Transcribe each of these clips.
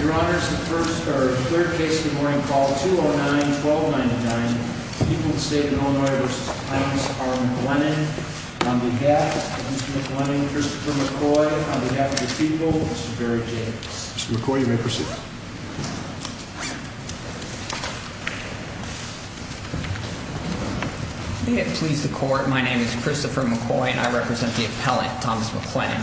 Your honors, the first or third case of the morning, call 209-1299, people of the state of Illinois v. Thomas R. McLennon, on behalf of Mr. McLennon, Christopher McCoy, on behalf of the people, Mr. Barry Jacobs. Mr. McCoy, you may proceed. May it please the court, my name is Christopher McCoy and I represent the appellant, Thomas McLennon.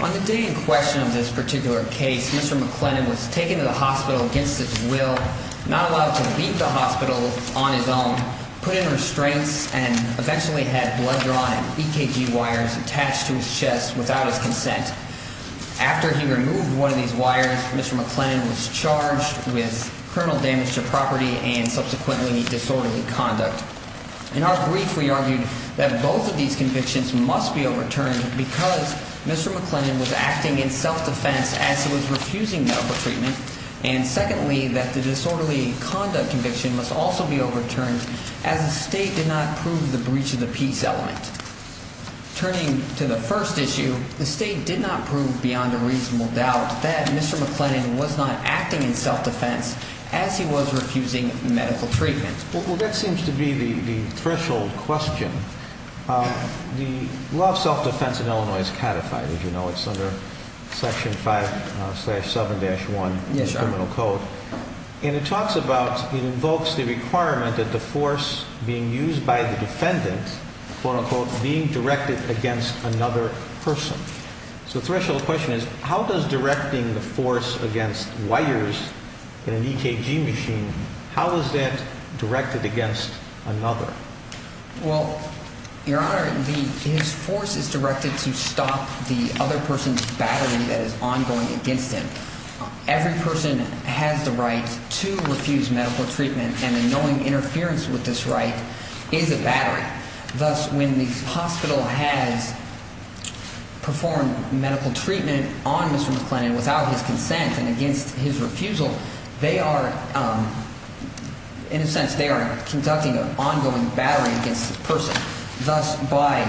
On the day in question of this particular case, Mr. McLennon was taken to the hospital against his will, not allowed to leave the hospital on his own, put in restraints, and eventually had blood-drawn EKG wires attached to his chest without his consent. After he removed one of these wires, Mr. McLennon was charged with criminal damage to property and subsequently disorderly conduct. In our brief, we argued that both of these convictions must be overturned because Mr. McLennon was acting in self-defense as he was refusing medical treatment, and secondly, that the disorderly conduct conviction must also be overturned as the state did not prove the breach of the peace element. Turning to the first issue, the state did not prove beyond a reasonable doubt that Mr. McLennon was not acting in self-defense as he was refusing medical treatment. Well, that seems to be the threshold question. The law of self-defense in Illinois is codified, as you know, it's under section 5-7-1 of the criminal code. And it talks about, it invokes the requirement that the force being used by the defendant, quote-unquote, being directed against another person. So the threshold question is, how does directing the force against wires in an EKG machine, how is that directed against another? Well, Your Honor, his force is directed to stop the other person's battery that is ongoing against him. Every person has the right to refuse medical treatment, and knowing interference with this right is a battery. Thus, when the hospital has performed medical treatment on Mr. McLennon without his consent and against his refusal, they are, in a sense, they are conducting an ongoing battery against the person. Thus, by,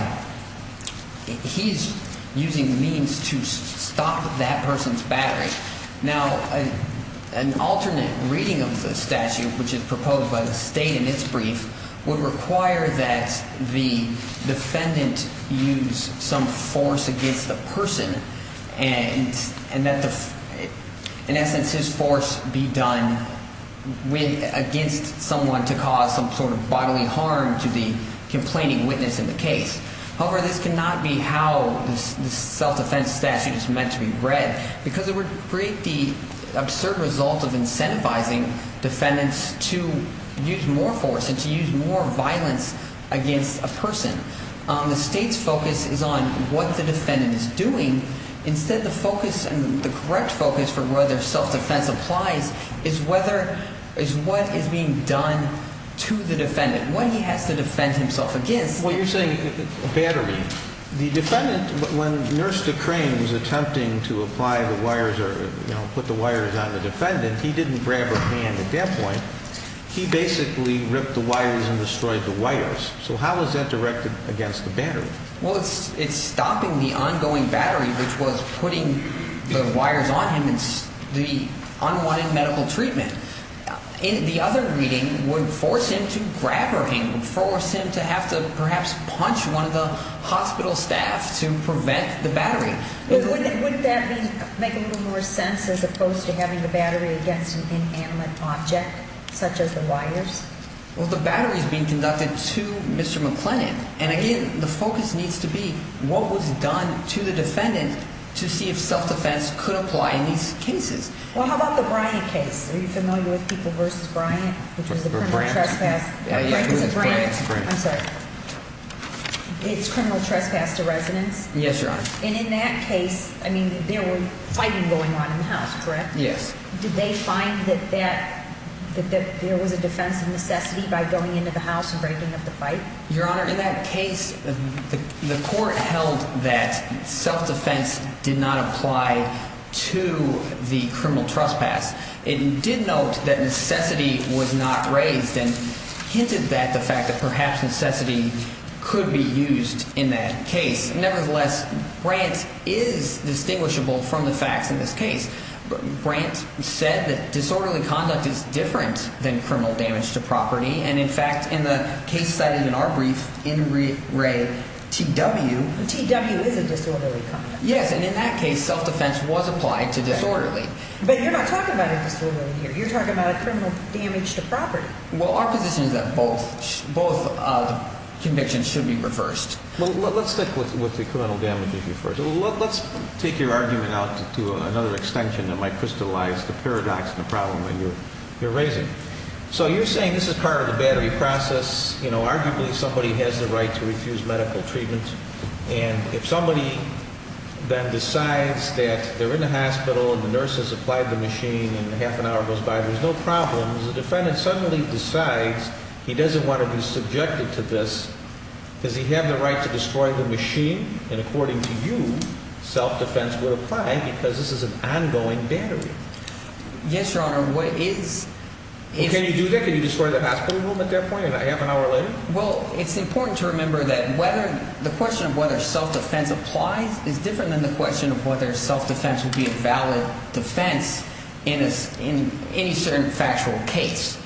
he's using means to stop that person's battery. Now, an alternate reading of the statute, which is proposed by the state in its brief, would require that the defendant use some force against the person and that, in essence, his force be done against someone to cause some sort of bodily harm to the complaining witness in the case. However, this cannot be how the self-defense statute is meant to be read because it would create the absurd result of incentivizing defendants to use more force and to use more violence against a person. The state's focus is on what the defendant is doing. Instead, the focus and the correct focus for whether self-defense applies is whether, is what is being done to the defendant, what he has to defend himself against. Well, you're saying a battery. The defendant, when Nurse de Crane was attempting to apply the wires or, you know, put the wires on the defendant, he didn't grab her hand at that point. He basically ripped the wires and destroyed the wires. So how is that directed against the battery? Well, it's stopping the ongoing battery, which was putting the wires on him and the unwanted medical treatment. The other reading would force him to grab her hand, force him to have to perhaps punch one of the hospital staff to prevent the battery. Wouldn't that make a little more sense as opposed to having the battery against an inanimate object such as the wires? Well, the battery is being conducted to Mr. McLennan. And, again, the focus needs to be what was done to the defendant to see if self-defense could apply in these cases. Well, how about the Bryant case? Are you familiar with People v. Bryant, which was the criminal trespass? Yeah, it was Bryant. I'm sorry. It's criminal trespass to residents. Yes, Your Honor. And in that case, I mean, there were fighting going on in the house, correct? Yes. Did they find that there was a defense of necessity by going into the house and breaking up the fight? Your Honor, in that case, the court held that self-defense did not apply to the criminal trespass. It did note that necessity was not raised and hinted at the fact that perhaps necessity could be used in that case. Nevertheless, Bryant is distinguishable from the facts in this case. Bryant said that disorderly conduct is different than criminal damage to property. And, in fact, in the case cited in our brief, in Re T.W. T.W. is a disorderly conduct. Yes, and in that case, self-defense was applied to disorderly. But you're not talking about a disorderly here. You're talking about a criminal damage to property. Well, our position is that both convictions should be reversed. Well, let's stick with the criminal damage issue first. Let's take your argument out to another extension that might crystallize the paradox and the problem that you're raising. So you're saying this is part of the battery process. Arguably, somebody has the right to refuse medical treatment. And if somebody then decides that they're in a hospital and the nurse has applied the machine and half an hour goes by, there's no problem. If the defendant suddenly decides he doesn't want to be subjected to this, does he have the right to destroy the machine? And, according to you, self-defense would apply because this is an ongoing battery. Yes, Your Honor. What is – Can you do that? Can you destroy the hospital room at that point and not half an hour later? Well, it's important to remember that whether – the question of whether self-defense applies is different than the question of whether self-defense would be a valid defense in any certain factual case.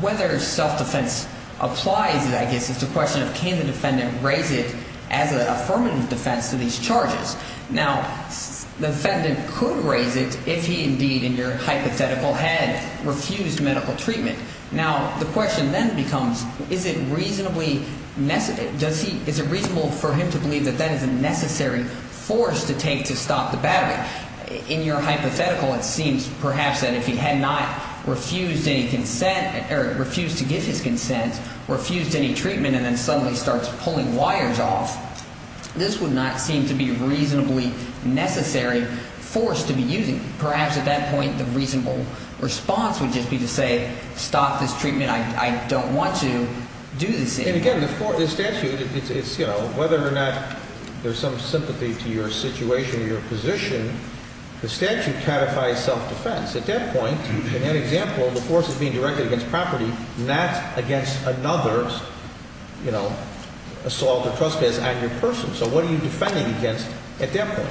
Whether self-defense applies, I guess, is the question of can the defendant raise it as an affirmative defense to these charges. Now, the defendant could raise it if he indeed, in your hypothetical head, refused medical treatment. Now, the question then becomes is it reasonably – does he – is it reasonable for him to believe that that is a necessary force to take to stop the battery? In your hypothetical, it seems perhaps that if he had not refused any consent – or refused to give his consent, refused any treatment, and then suddenly starts pulling wires off, this would not seem to be a reasonably necessary force to be using. Perhaps at that point the reasonable response would just be to say stop this treatment. I don't want to do this. And, again, the statute, it's – whether or not there's some sympathy to your situation or your position, the statute catifies self-defense. At that point, in that example, the force is being directed against property, not against another assault or trespass on your person. So what are you defending against at that point?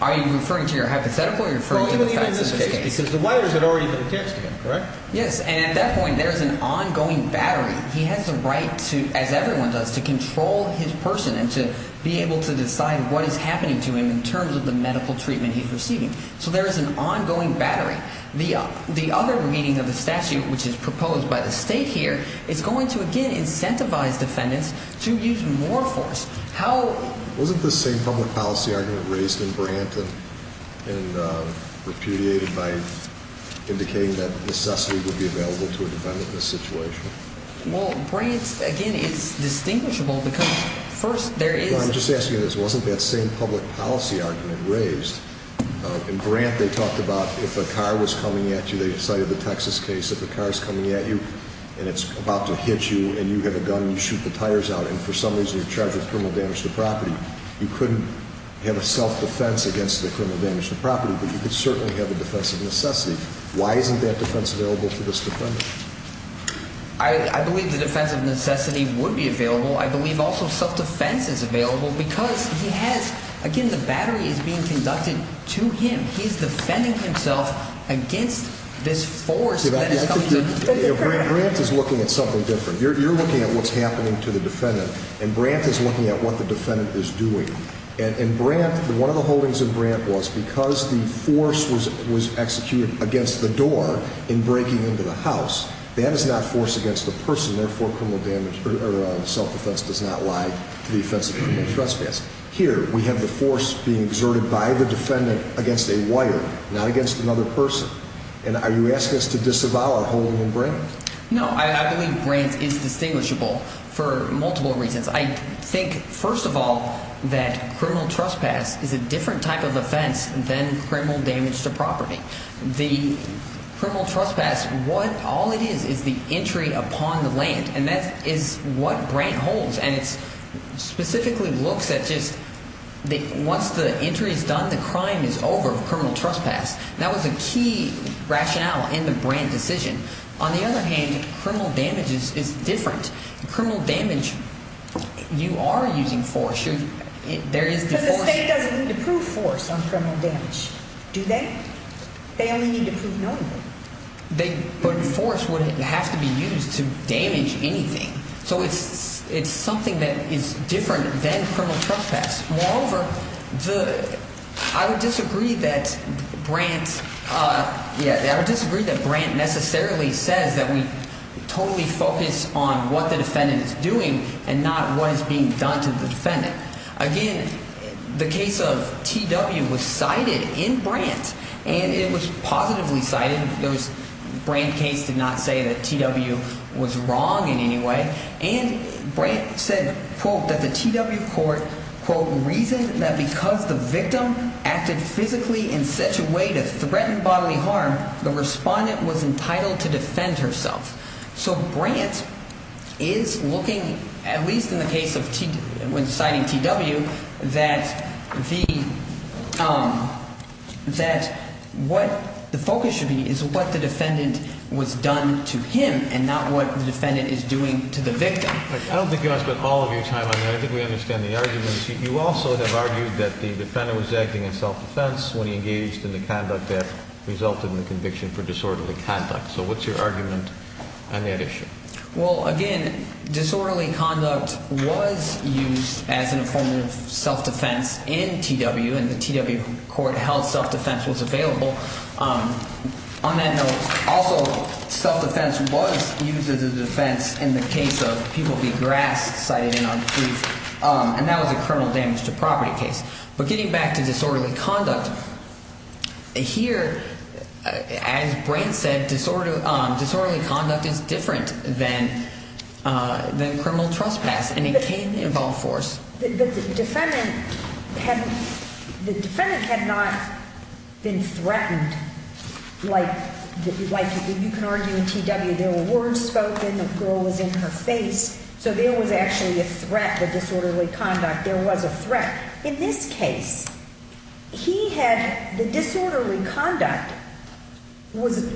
Are you referring to your hypothetical or are you referring to the facts of this case? Well, even in this case because the wires had already been attached to him, correct? Yes, and at that point there is an ongoing battery. He has the right to, as everyone does, to control his person and to be able to decide what is happening to him in terms of the medical treatment he's receiving. So there is an ongoing battery. The other meaning of the statute, which is proposed by the state here, is going to, again, incentivize defendants to use more force. Wasn't this same public policy argument raised in Brant and repudiated by indicating that necessity would be available to a defendant in this situation? Well, Brant, again, it's distinguishable because first there is – Well, I'm just asking you this. Wasn't that same public policy argument raised? In Brant they talked about if a car was coming at you, they cited the Texas case, if a car is coming at you and it's about to hit you and you have a gun and you shoot the tires out and for some reason you're charged with criminal damage to property, you couldn't have a self-defense against the criminal damage to property, but you could certainly have a defense of necessity. Why isn't that defense available to this defendant? I believe the defense of necessity would be available. I believe also self-defense is available because he has – again, the battery is being conducted to him. He's defending himself against this force that is coming to him. Brant is looking at something different. You're looking at what's happening to the defendant, and Brant is looking at what the defendant is doing. And Brant, one of the holdings of Brant was because the force was executed against the door in breaking into the house, that is not force against the person, therefore self-defense does not lie to the offense of criminal trespass. Here we have the force being exerted by the defendant against a wire, not against another person. And are you asking us to disavow a holding of Brant? No, I believe Brant is distinguishable for multiple reasons. I think, first of all, that criminal trespass is a different type of offense than criminal damage to property. The criminal trespass, what – all it is is the entry upon the land, and that is what Brant holds. And it specifically looks at just – once the entry is done, the crime is over, criminal trespass. That was a key rationale in the Brant decision. On the other hand, criminal damage is different. Criminal damage, you are using force. There is – Because the state doesn't need to prove force on criminal damage, do they? They only need to prove knowingly. They – but force wouldn't have to be used to damage anything. So it's something that is different than criminal trespass. Moreover, the – I would disagree that Brant – yeah, I would disagree that Brant necessarily says that we totally focus on what the defendant is doing and not what is being done to the defendant. Again, the case of T.W. was cited in Brant, and it was positively cited. There was – Brant case did not say that T.W. was wrong in any way. And Brant said, quote, that the T.W. court, quote, reasoned that because the victim acted physically in such a way to threaten bodily harm, the respondent was entitled to defend herself. So Brant is looking, at least in the case of – when citing T.W., that the – that what the focus should be is what the defendant was done to him and not what the defendant is doing to the victim. I don't think you want to spend all of your time on that. I think we understand the argument. You also have argued that the defendant was acting in self-defense when he engaged in the conduct that resulted in the conviction for disorderly conduct. So what's your argument on that issue? Well, again, disorderly conduct was used as a form of self-defense in T.W., and the T.W. court held self-defense was available. On that note, also self-defense was used as a defense in the case of People v. Grass cited in our brief, and that was a criminal damage to property case. But getting back to disorderly conduct, here, as Brant said, disorderly conduct is different than criminal trespass, and it can involve force. The defendant had not been threatened like you can argue in T.W. There were words spoken. The girl was in her face. So there was actually a threat to disorderly conduct. There was a threat. In this case, he had – the disorderly conduct was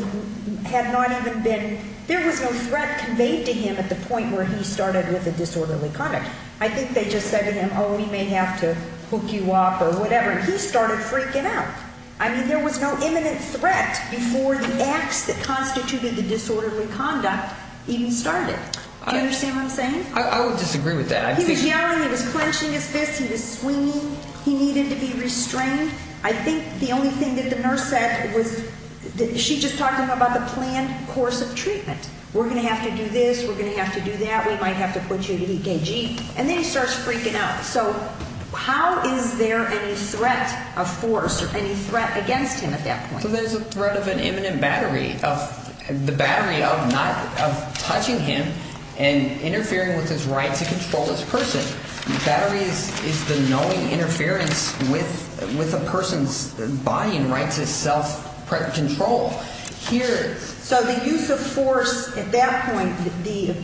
– had not even been – there was no threat conveyed to him at the point where he started with the disorderly conduct. I think they just said to him, oh, we may have to hook you up or whatever, and he started freaking out. I mean, there was no imminent threat before the acts that constituted the disorderly conduct even started. Do you understand what I'm saying? I would disagree with that. He was yelling. He was clenching his fists. He was swinging. He needed to be restrained. I think the only thing that the nurse said was – she just talked to him about the planned course of treatment. We're going to have to do this. We're going to have to do that. We might have to put you to EKG. And then he starts freaking out. So how is there any threat of force or any threat against him at that point? So there's a threat of an imminent battery of – the battery of not – of touching him and interfering with his right to control this person. The battery is the knowing interference with a person's body and right to self-control. So the use of force at that point, the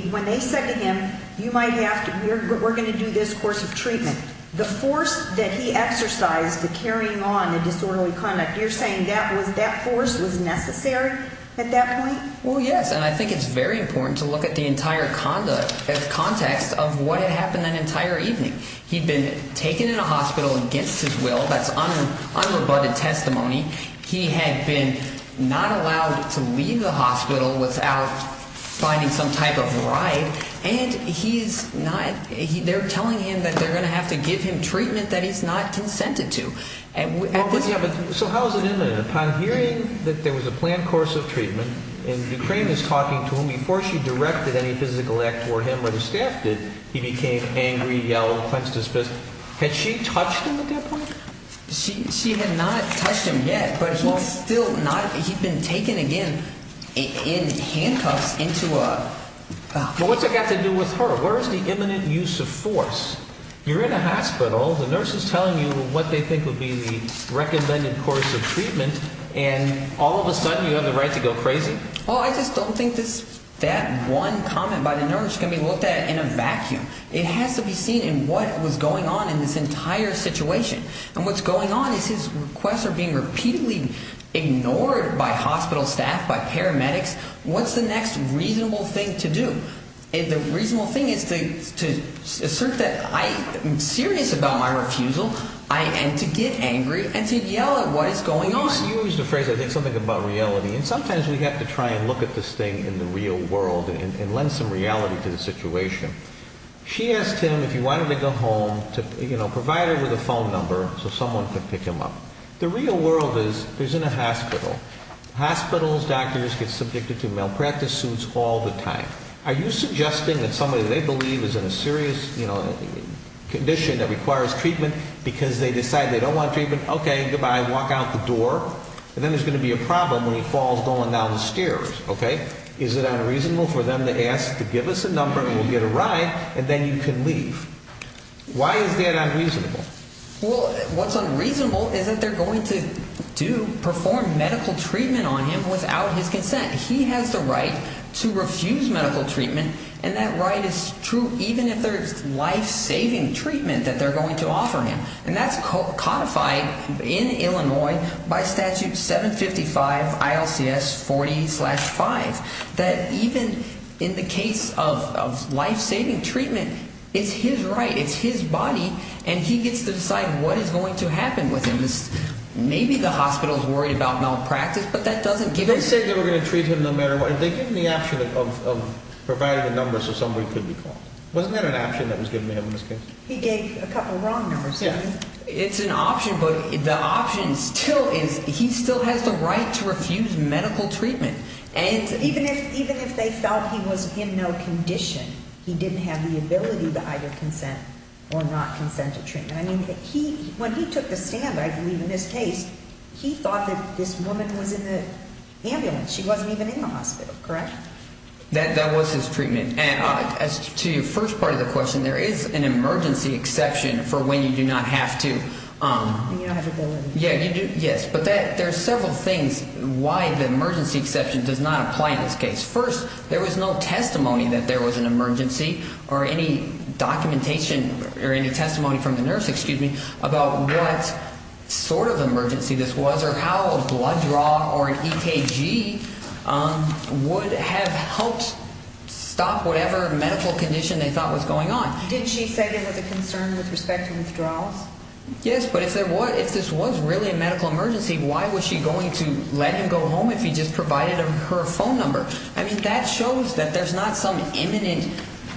– when they said to him you might have to – we're going to do this course of treatment. The force that he exercised to carrying on the disorderly conduct, you're saying that was – that force was necessary at that point? Well, yes, and I think it's very important to look at the entire conduct as context of what had happened that entire evening. He'd been taken in a hospital against his will. That's unrebutted testimony. He had been not allowed to leave the hospital without finding some type of ride, and he's not – they're telling him that they're going to have to give him treatment that he's not consented to. And at this point – So how is it imminent? Upon hearing that there was a planned course of treatment and Ukraine is talking to him, before she directed any physical act toward him or the staff did, he became angry, yelled, punched his fist. Had she touched him at that point? She had not touched him yet, but he's still not – he'd been taken again in handcuffs into a – Well, what's it got to do with her? Where is the imminent use of force? You're in a hospital. The nurse is telling you what they think would be the recommended course of treatment, and all of a sudden you have the right to go crazy? Well, I just don't think this – that one comment by the nurse can be looked at in a vacuum. It has to be seen in what was going on in this entire situation. And what's going on is his requests are being repeatedly ignored by hospital staff, by paramedics. What's the next reasonable thing to do? The reasonable thing is to assert that I am serious about my refusal and to get angry and to yell at what is going on. The nurse used a phrase, I think something about reality, and sometimes we have to try and look at this thing in the real world and lend some reality to the situation. She asked him if he wanted to go home to provide her with a phone number so someone could pick him up. The real world is he's in a hospital. Hospitals, doctors get subjected to malpractice suits all the time. Are you suggesting that somebody they believe is in a serious condition that requires treatment because they decide they don't want treatment? Okay, goodbye, walk out the door, and then there's going to be a problem when he falls going down the stairs, okay? Is it unreasonable for them to ask to give us a number and we'll get a ride and then you can leave? Why is that unreasonable? Well, what's unreasonable is that they're going to do – perform medical treatment on him without his consent. He has the right to refuse medical treatment, and that right is true even if there's life-saving treatment that they're going to offer him. And that's codified in Illinois by Statute 755 ILCS 40-5, that even in the case of life-saving treatment, it's his right. It's his body, and he gets to decide what is going to happen with him. Maybe the hospital is worried about malpractice, but that doesn't give him – They said they were going to treat him no matter what. Did they give him the option of providing a number so somebody could be called? Wasn't there an option that was given to him in this case? He gave a couple of wrong numbers. It's an option, but the option still is he still has the right to refuse medical treatment. And even if they felt he was in no condition, he didn't have the ability to either consent or not consent to treatment. I mean, he – when he took the stand, I believe, in this case, he thought that this woman was in the ambulance. She wasn't even in the hospital, correct? That was his treatment. And as to your first part of the question, there is an emergency exception for when you do not have to. You don't have to go in. Yes, but there are several things why the emergency exception does not apply in this case. First, there was no testimony that there was an emergency or any documentation or any testimony from the nurse, excuse me, about what sort of emergency this was or how a blood draw or an EKG would have helped stop whatever medical condition they thought was going on. Did she say there was a concern with respect to withdrawals? Yes, but if there was – if this was really a medical emergency, why was she going to let him go home if he just provided her phone number? I mean, that shows that there's not some imminent,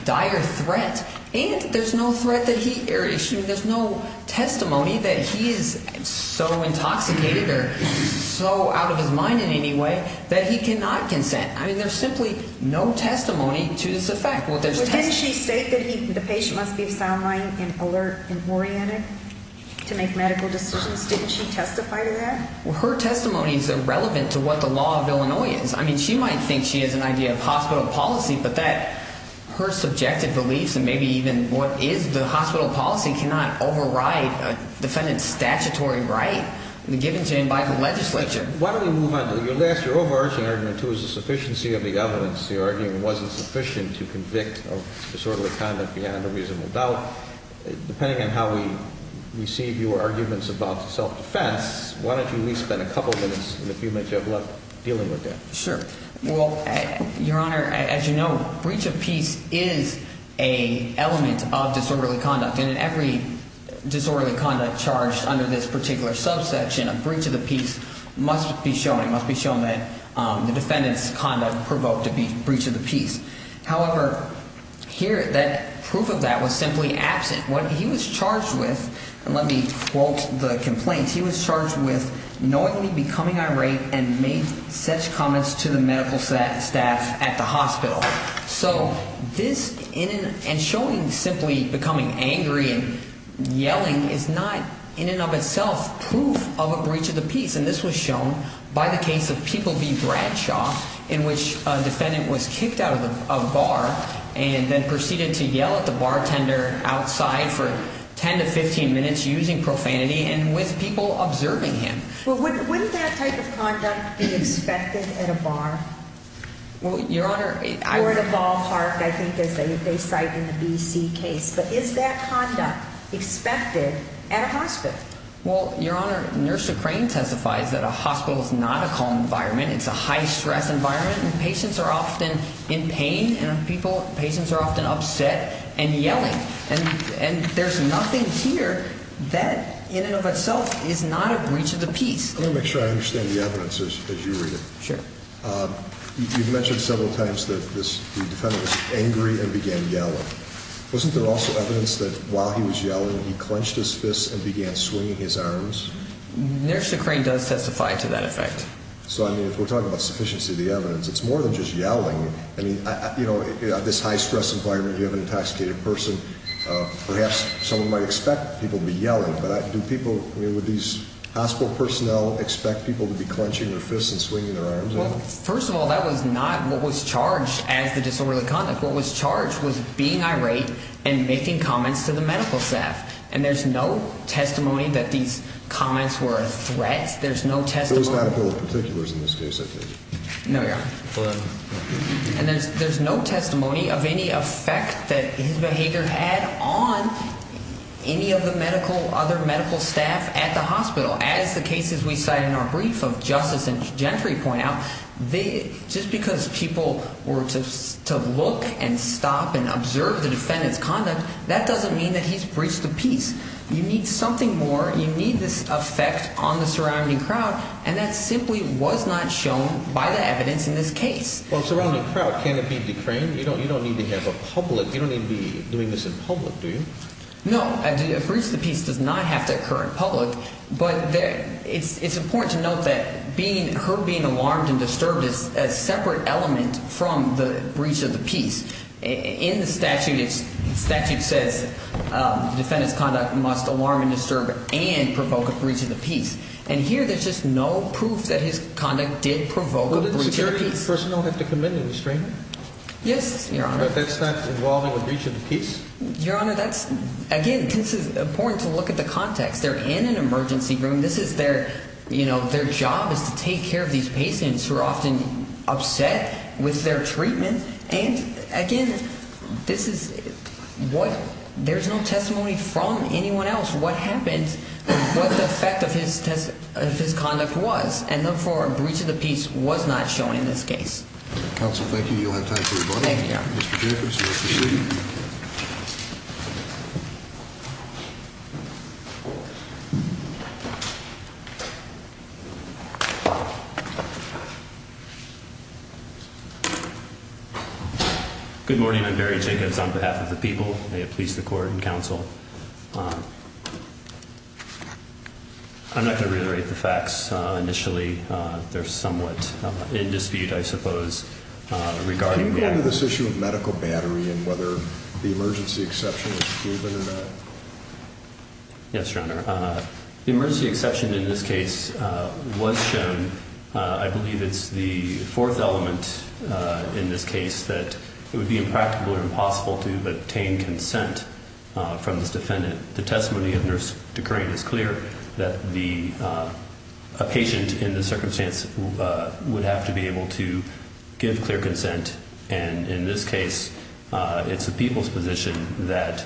dire threat. And there's no threat that he – excuse me, there's no testimony that he is so intoxicated or so out of his mind in any way that he cannot consent. I mean, there's simply no testimony to this effect. Well, didn't she state that he – the patient must be sound-minded and alert and oriented to make medical decisions? Didn't she testify to that? Well, her testimony is irrelevant to what the law of Illinois is. I mean, she might think she has an idea of hospital policy, but that – her subjective beliefs and maybe even what is the hospital policy cannot override a defendant's statutory right given to him by the legislature. Why don't we move on to – your last – your overarching argument, too, is the sufficiency of the evidence. The argument wasn't sufficient to convict disorderly conduct beyond a reasonable doubt. Well, depending on how we receive your arguments about self-defense, why don't you at least spend a couple minutes and if you may, Jeff, love dealing with that. Sure. Well, Your Honor, as you know, breach of peace is an element of disorderly conduct. And in every disorderly conduct charged under this particular subsection, a breach of the peace must be shown. It must be shown that the defendant's conduct provoked a breach of the peace. However, here that – proof of that was simply absent. What he was charged with – and let me quote the complaint. He was charged with knowingly becoming irate and made such comments to the medical staff at the hospital. So this – and showing simply becoming angry and yelling is not in and of itself proof of a breach of the peace. And then proceeded to yell at the bartender outside for 10 to 15 minutes using profanity and with people observing him. Well, wouldn't that type of conduct be expected at a bar? Well, Your Honor, I – Or at a ballpark, I think, as they cite in the B.C. case. But is that conduct expected at a hospital? Well, Your Honor, Nurse O'Krane testifies that a hospital is not a calm environment. It's a high-stress environment, and patients are often in pain and people – patients are often upset and yelling. And there's nothing here that in and of itself is not a breach of the peace. Let me make sure I understand the evidence as you read it. Sure. You've mentioned several times that this – the defendant was angry and began yelling. Wasn't there also evidence that while he was yelling, he clenched his fists and began swinging his arms? Nurse O'Krane does testify to that effect. So, I mean, if we're talking about sufficiency of the evidence, it's more than just yelling. I mean, you know, at this high-stress environment, you have an intoxicated person. Perhaps someone might expect people to be yelling, but do people – I mean, would these hospital personnel expect people to be clenching their fists and swinging their arms? Well, first of all, that was not what was charged as the disorderly conduct. What was charged was being irate and making comments to the medical staff. And there's no testimony that these comments were a threat. There's no testimony – There was no medical particulars in this case, I think. No, Your Honor. And there's no testimony of any effect that his behavior had on any of the medical – other medical staff at the hospital. As the cases we cite in our brief of justice and gentry point out, just because people were to look and stop and observe the defendant's conduct, that doesn't mean that he's breached the peace. You need something more. You need this effect on the surrounding crowd, and that simply was not shown by the evidence in this case. Well, surrounding crowd, can it be declaimed? You don't need to have a public – you don't need to be doing this in public, do you? No, a breach of the peace does not have to occur in public, but it's important to note that being – her being alarmed and disturbed is a separate element from the breach of the peace. In the statute, it's – the statute says the defendant's conduct must alarm and disturb and provoke a breach of the peace. And here there's just no proof that his conduct did provoke a breach of the peace. Well, didn't security personnel have to come in and restrain him? Yes, Your Honor. But that's not involving a breach of the peace? Your Honor, that's – again, this is important to look at the context. They're in an emergency room. This is their – their job is to take care of these patients who are often upset with their treatment. And, again, this is what – there's no testimony from anyone else what happened, what the effect of his conduct was. And, therefore, a breach of the peace was not shown in this case. Counsel, thank you. You'll have time for rebuttal. Thank you. Mr. Jacobs, you're up to speak. Thank you. Good morning. I'm Barry Jacobs on behalf of the people. May it please the Court and Counsel. I'm not going to reiterate the facts initially. They're somewhat in dispute, I suppose, regarding – Can you go into this issue of medical battery and whether the emergency exception was given or not? Yes, Your Honor. The emergency exception in this case was shown. I believe it's the fourth element in this case that it would be impractical or impossible to obtain consent from this defendant. The testimony of Nurse DeCrane is clear that the – a patient in this circumstance would have to be able to give clear consent. And in this case, it's the people's position that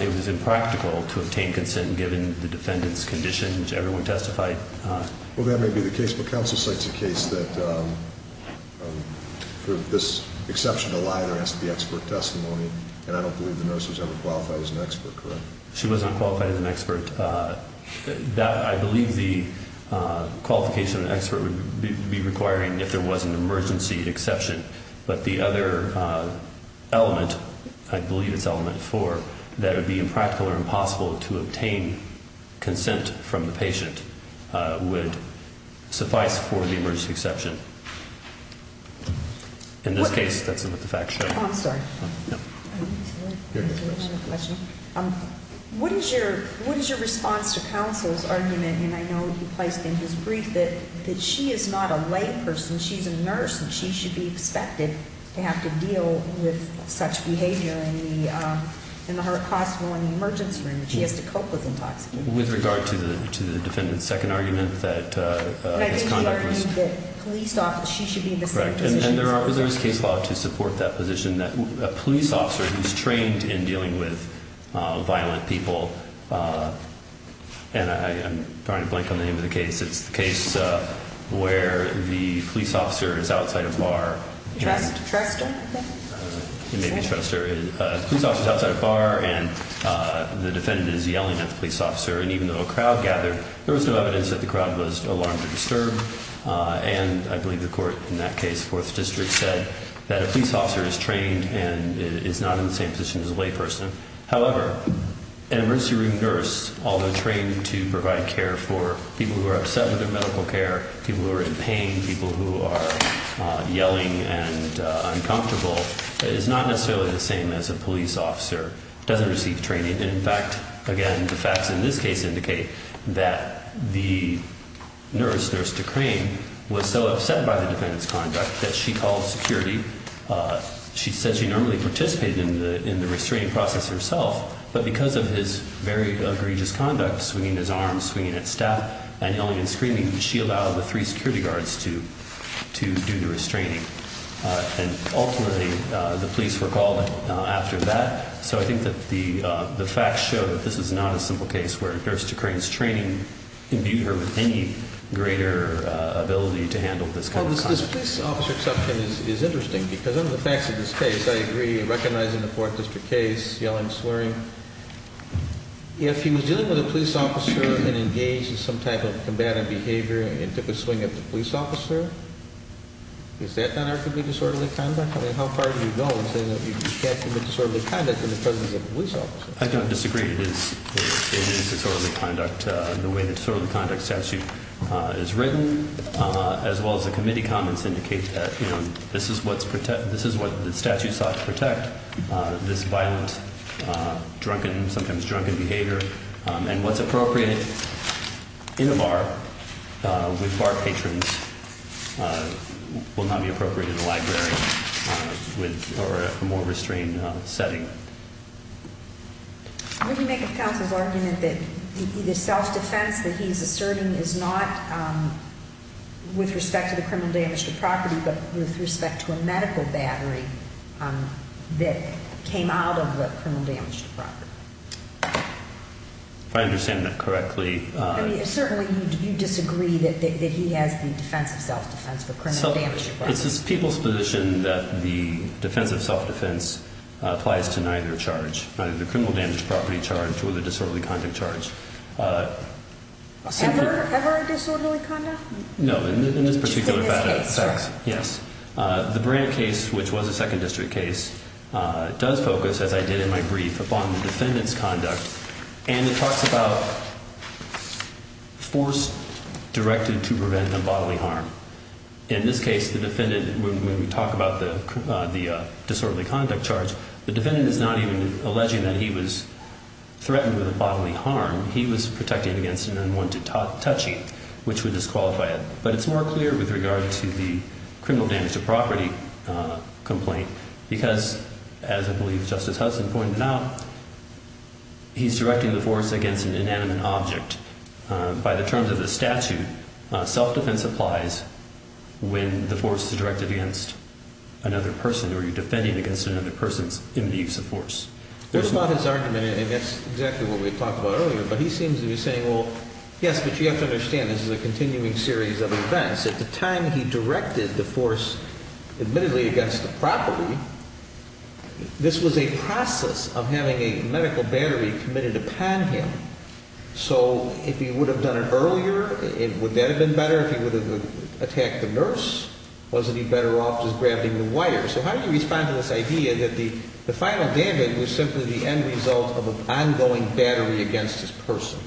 it was impractical to obtain consent given the defendant's condition, which everyone testified. Well, that may be the case. But Counsel cites a case that for this exception to lie, there has to be expert testimony. And I don't believe the nurse was ever qualified as an expert, correct? She was not qualified as an expert. I believe the qualification of an expert would be requiring if there was an emergency exception. But the other element, I believe it's element four, that it would be impractical or impossible to obtain consent from the patient, would suffice for the emergency exception. In this case, that's what the facts show. Oh, I'm sorry. No. What is your response to Counsel's argument? And I know you placed in his brief that she is not a layperson. She's a nurse, and she should be expected to have to deal with such behavior in the hospital, in the emergency room. She has to cope with intoxication. With regard to the defendant's second argument that his conduct was – But I think he argued that police officers – she should be in the second position. Correct. And there is case law to support that position, that a police officer who's trained in dealing with violent people – and I'm trying to blank on the name of the case. It's the case where the police officer is outside a bar. Truster. Maybe Truster. The police officer is outside a bar, and the defendant is yelling at the police officer. And even though a crowd gathered, there was no evidence that the crowd was alarmed or disturbed. And I believe the court in that case, Fourth District, said that a police officer is trained and is not in the same position as a layperson. However, an emergency room nurse, although trained to provide care for people who are upset with their medical care, people who are in pain, people who are yelling and uncomfortable, is not necessarily the same as a police officer who doesn't receive training. And, in fact, again, the facts in this case indicate that the nurse, Nurse Decrane, was so upset by the defendant's conduct that she called security. She said she normally participated in the restraining process herself, but because of his very egregious conduct – swinging his arms, swinging at staff, and yelling and screaming – she allowed the three security guards to do the restraining. And ultimately, the police were called after that. So I think that the facts show that this is not a simple case where Nurse Decrane's training imbued her with any greater ability to handle this kind of conduct. Well, this police officer exception is interesting because under the facts of this case, I agree, recognizing the Fourth District case, yelling, swearing. If he was dealing with a police officer and engaged in some type of combative behavior and took a swing at the police officer, is that not arguably disorderly conduct? I mean, how far do you go in saying that you can't commit disorderly conduct in the presence of a police officer? I don't disagree. It is disorderly conduct. The way the disorderly conduct statute is written, as well as the committee comments, indicate that this is what the statute sought to protect, this violent, drunken, sometimes drunken behavior. And what's appropriate in a bar with bar patrons will not be appropriate in a library or a more restrained setting. Would you make a counsel's argument that the self-defense that he's asserting is not with respect to the criminal damage to property, but with respect to a medical battery that came out of the criminal damage to property? If I understand that correctly. Certainly, you disagree that he has the defense of self-defense for criminal damage to property. It's the people's position that the defense of self-defense applies to neither charge, either the criminal damage to property charge or the disorderly conduct charge. Ever a disorderly conduct? No, in this particular case. Yes. The Brandt case, which was a second district case, does focus, as I did in my brief, upon the defendant's conduct. And it talks about force directed to prevent a bodily harm. In this case, the defendant, when we talk about the disorderly conduct charge, the defendant is not even alleging that he was threatened with a bodily harm. He was protecting against an unwanted touching, which would disqualify it. But it's more clear with regard to the criminal damage to property complaint, because, as I believe Justice Hudson pointed out, he's directing the force against an inanimate object. By the terms of the statute, self-defense applies when the force is directed against another person or you're defending against another person's imminent use of force. That's not his argument, and that's exactly what we talked about earlier. But he seems to be saying, well, yes, but you have to understand this is a continuing series of events. At the time he directed the force, admittedly, against the property, this was a process of having a medical battery committed upon him. So if he would have done it earlier, would that have been better? If he would have attacked the nurse, wasn't he better off just grabbing the wire? So how do you respond to this idea that the final damage was simply the end result of an ongoing battery against this person?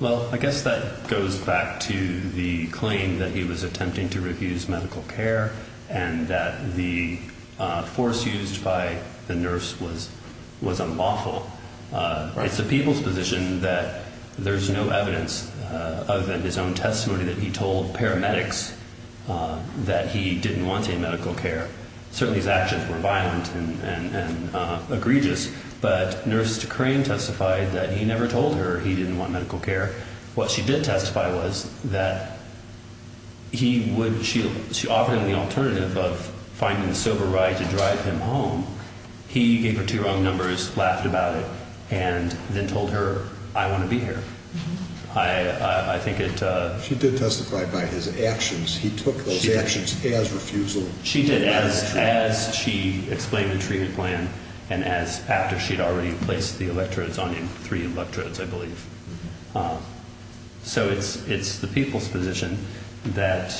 Well, I guess that goes back to the claim that he was attempting to refuse medical care and that the force used by the nurse was unlawful. It's the people's position that there's no evidence other than his own testimony that he told paramedics that he didn't want any medical care. Certainly his actions were violent and egregious, but Nurse Crain testified that he never told her he didn't want medical care. What she did testify was that she offered him the alternative of finding a sober ride to drive him home. He gave her two wrong numbers, laughed about it, and then told her, I want to be here. She did testify by his actions. He took those actions as refusal. She did as she explained the treatment plan and as after she had already placed the electrodes on him, three electrodes, I believe. So it's the people's position that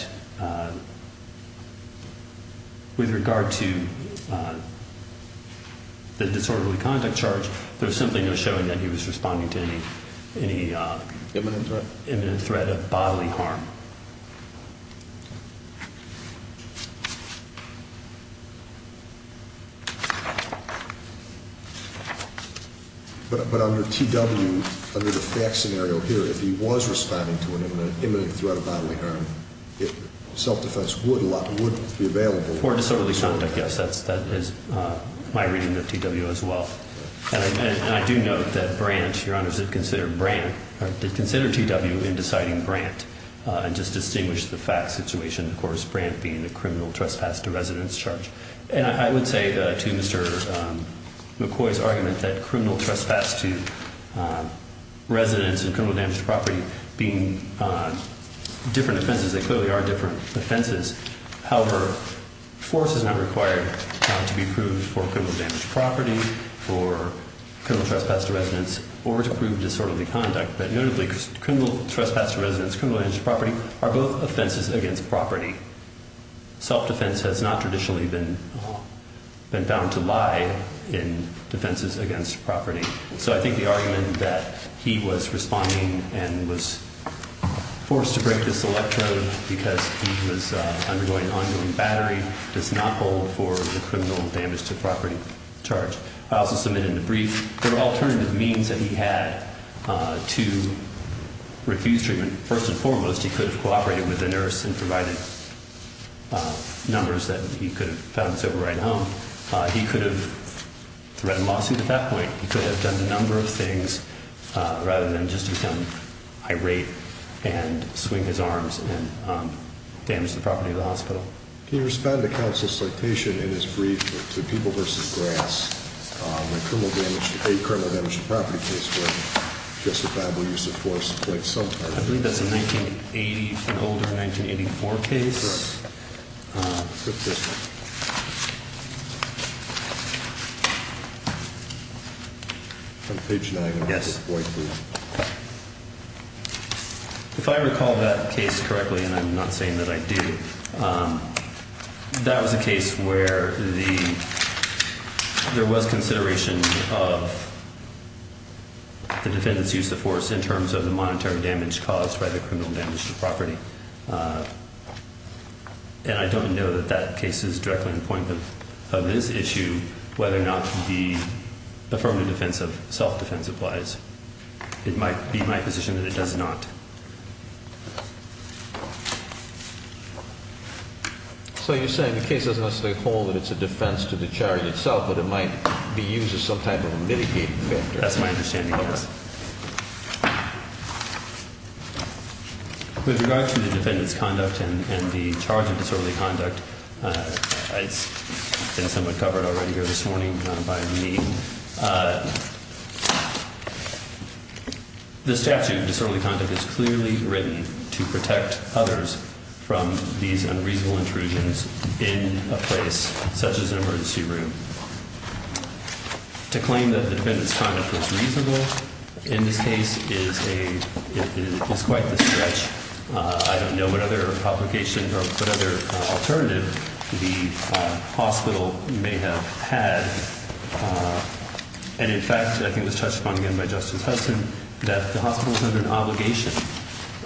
with regard to the disorderly conduct charge, there's simply no showing that he was responding to any imminent threat of bodily harm. But under TW, under the fact scenario here, if he was responding to an imminent threat of bodily harm, self-defense would be available. For disorderly conduct, yes, that is my reading of TW as well. And I do note that Brandt, Your Honor, did consider TW in deciding Brandt and just distinguished the fact situation. Of course, Brandt being the criminal trespass to residence charge. And I would say to Mr. McCoy's argument that criminal trespass to residence and criminal damage to property being different offenses, they clearly are different offenses. However, force is not required to be proved for criminal damage to property, for criminal trespass to residence, or to prove disorderly conduct. But notably, criminal trespass to residence, criminal damage to property are both offenses against property. Self-defense has not traditionally been bound to lie in defenses against property. So I think the argument that he was responding and was forced to break this electron because he was undergoing ongoing battery does not hold for the criminal damage to property charge. I also submitted in the brief the alternative means that he had to refuse treatment. First and foremost, he could have cooperated with the nurse and provided numbers that he could have found his override home. He could have threatened lawsuits at that point. He could have done a number of things rather than just become irate and swing his arms and damage the property of the hospital. Can you respond to counsel's citation in his brief to people versus grass? The criminal damage to property case where justifiable use of force played some part. I believe that's a 1980, an older 1984 case. Page nine. Yes. If I recall that case correctly, and I'm not saying that I do, that was a case where the. There was consideration of. The defendants use the force in terms of the monetary damage caused by the criminal damage to property. And I don't know that that case is directly in the point of this issue, whether or not the affirmative defense of self-defense applies. It might be my position that it does not. So you're saying the case doesn't necessarily hold that it's a defense to the chariot itself, but it might be used as some type of a mitigating factor. That's my understanding. With regard to the defendant's conduct and the charge of disorderly conduct, it's been somewhat covered already here this morning by me. The statute disorderly conduct is clearly written to protect others from these unreasonable intrusions in a place such as an emergency room. To claim that the defendant's conduct was reasonable in this case is a it's quite the stretch. I don't know what other publication or what other alternative to the hospital may have had. And, in fact, I think it was touched upon again by Justice Hudson that the hospital is under an obligation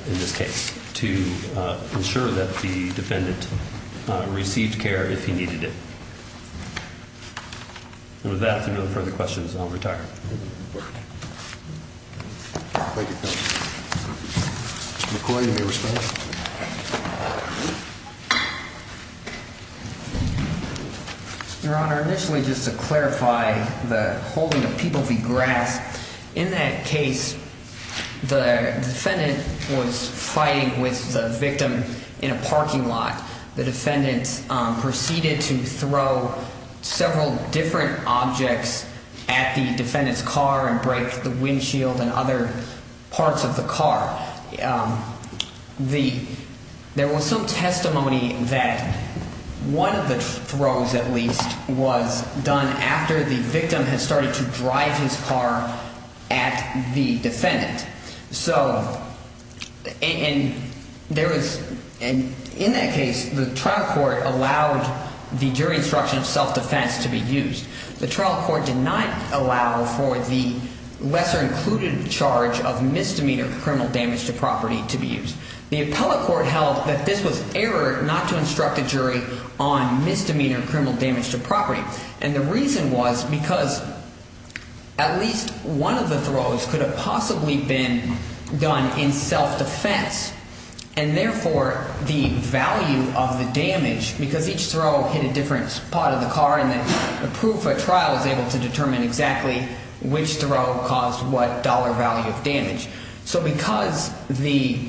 in this case to ensure that the defendant received care if he needed it. And with that and no further questions, I'll retire. Thank you. Recording the response. Your Honor, initially, just to clarify the holding of people, the grass in that case, the defendant was fighting with the victim in a parking lot. The defendant proceeded to throw several different objects at the defendant's car and break the windshield and other parts of the car. The there was some testimony that one of the throws, at least, was done after the victim has started to drive his car at the defendant. So and there was and in that case, the trial court allowed the jury instruction of self-defense to be used. The trial court did not allow for the lesser included charge of misdemeanor criminal damage to property to be used. The appellate court held that this was error not to instruct a jury on misdemeanor criminal damage to property. And the reason was because at least one of the throws could have possibly been done in self-defense. And therefore, the value of the damage, because each throw hit a different part of the car and the proof of trial is able to determine exactly which throw caused what dollar value of damage. So because the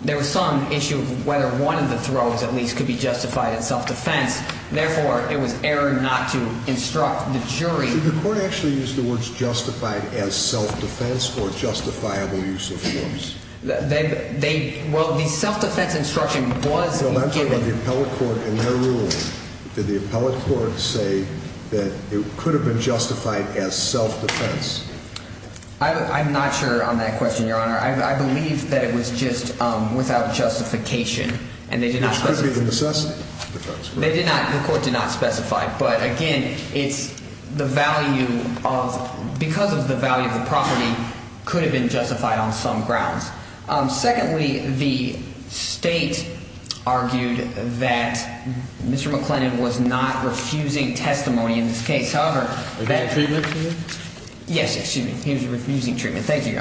there was some issue of whether one of the throws, at least, could be justified in self-defense. Therefore, it was error not to instruct the jury. The court actually used the words justified as self-defense or justifiable use of force. They well, the self-defense instruction was given by the appellate court in their rule. Did the appellate court say that it could have been justified as self-defense? I'm not sure on that question, Your Honor. I believe that it was just without justification and they did not. They did not. The court did not specify. But again, it's the value of because of the value of the property could have been justified on some grounds. Secondly, the state argued that Mr. McClennan was refusing testimony in this case. However, that treatment. Yes. Excuse me. He was refusing treatment. Thank you.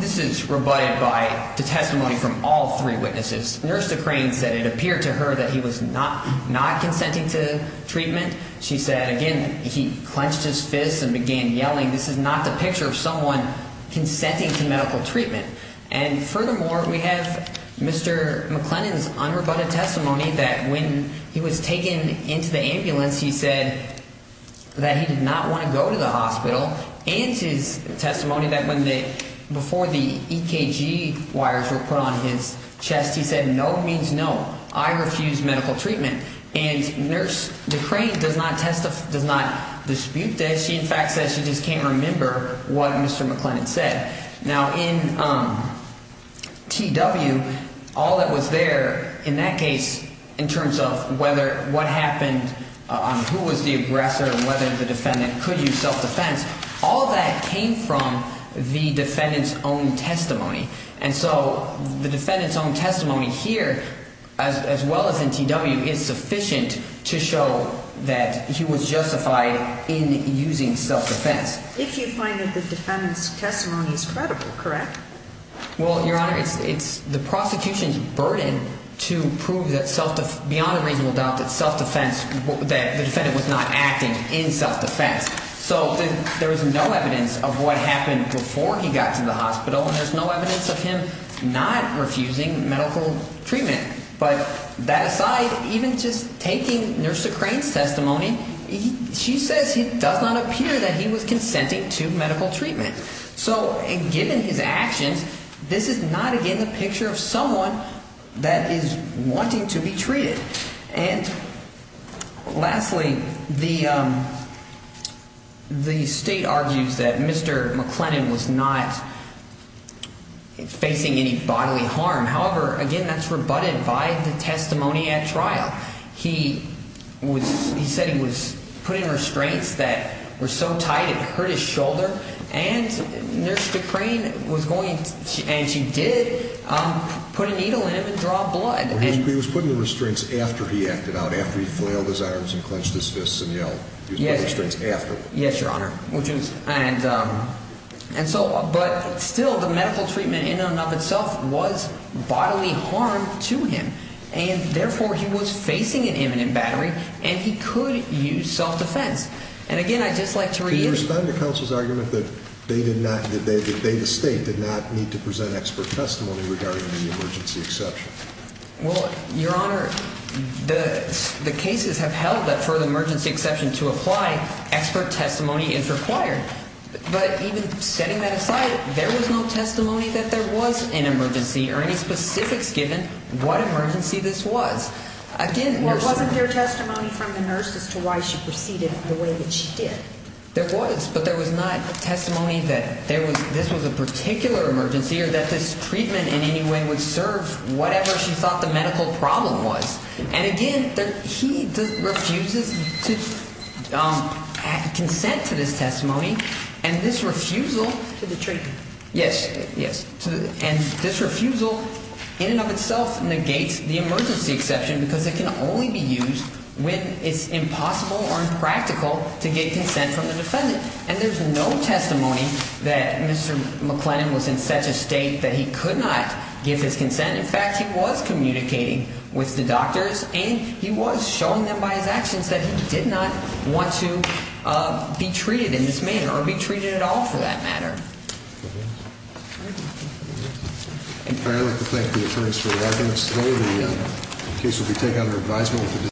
This is provided by the testimony from all three witnesses. Nurse Crane said it appeared to her that he was not not consenting to treatment. She said again, he clenched his fists and began yelling. This is not the picture of someone consenting to medical treatment. And furthermore, we have Mr. McClennan's unrebutted testimony that when he was taken into the ambulance, he said that he did not want to go to the hospital. And his testimony that when they before the EKG wires were put on his chest, he said, no means no. I refuse medical treatment. And Nurse Crane does not test does not dispute that. She, in fact, says she just can't remember what Mr. McClennan said. Now, in T.W., all that was there in that case in terms of whether what happened, who was the aggressor and whether the defendant could use self-defense. All that came from the defendant's own testimony. And so the defendant's own testimony here, as well as in T.W., is sufficient to show that he was justified in using self-defense. If you find that the defendant's testimony is credible, correct? Well, Your Honor, it's the prosecution's burden to prove that self beyond a reasonable doubt that self-defense that the defendant was not acting in self-defense. So there is no evidence of what happened before he got to the hospital. And there's no evidence of him not refusing medical treatment. But that aside, even just taking Nurse Crane's testimony, she says it does not appear that he was consenting to medical treatment. So given his actions, this is not, again, the picture of someone that is wanting to be treated. And lastly, the state argues that Mr. McClennan was not facing any bodily harm. However, again, that's rebutted by the testimony at trial. He said he was putting restraints that were so tight it hurt his shoulder. And Nurse Crane was going and she did put a needle in him and draw blood. He was putting the restraints after he acted out, after he flailed his arms and clenched his fists and yelled. He was putting restraints after. Yes, Your Honor. And so but still the medical treatment in and of itself was bodily harm to him. And therefore, he was facing an imminent battery and he could use self-defense. And again, I'd just like to read it. Can you respond to counsel's argument that they did not, that they, the state, did not need to present expert testimony regarding the emergency exception? Well, Your Honor, the cases have held that for the emergency exception to apply, expert testimony is required. But even setting that aside, there was no testimony that there was an emergency or any specifics given what emergency this was. Again, Your Honor. Well, wasn't there testimony from the nurse as to why she proceeded the way that she did? There was, but there was not testimony that there was, this was a particular emergency or that this treatment in any way would serve whatever she thought the medical problem was. And again, he refuses to consent to this testimony. And this refusal. To the treatment. Yes. And this refusal in and of itself negates the emergency exception because it can only be used when it's impossible or impractical to get consent from the defendant. And there's no testimony that Mr. McLennan was in such a state that he could not give his consent. In fact, he was communicating with the doctors and he was showing them by his actions that he did not want to be treated in this manner or be treated at all for that matter. Thank you. I'd like to thank the attorneys for their arguments today. The case will be taken under advisement.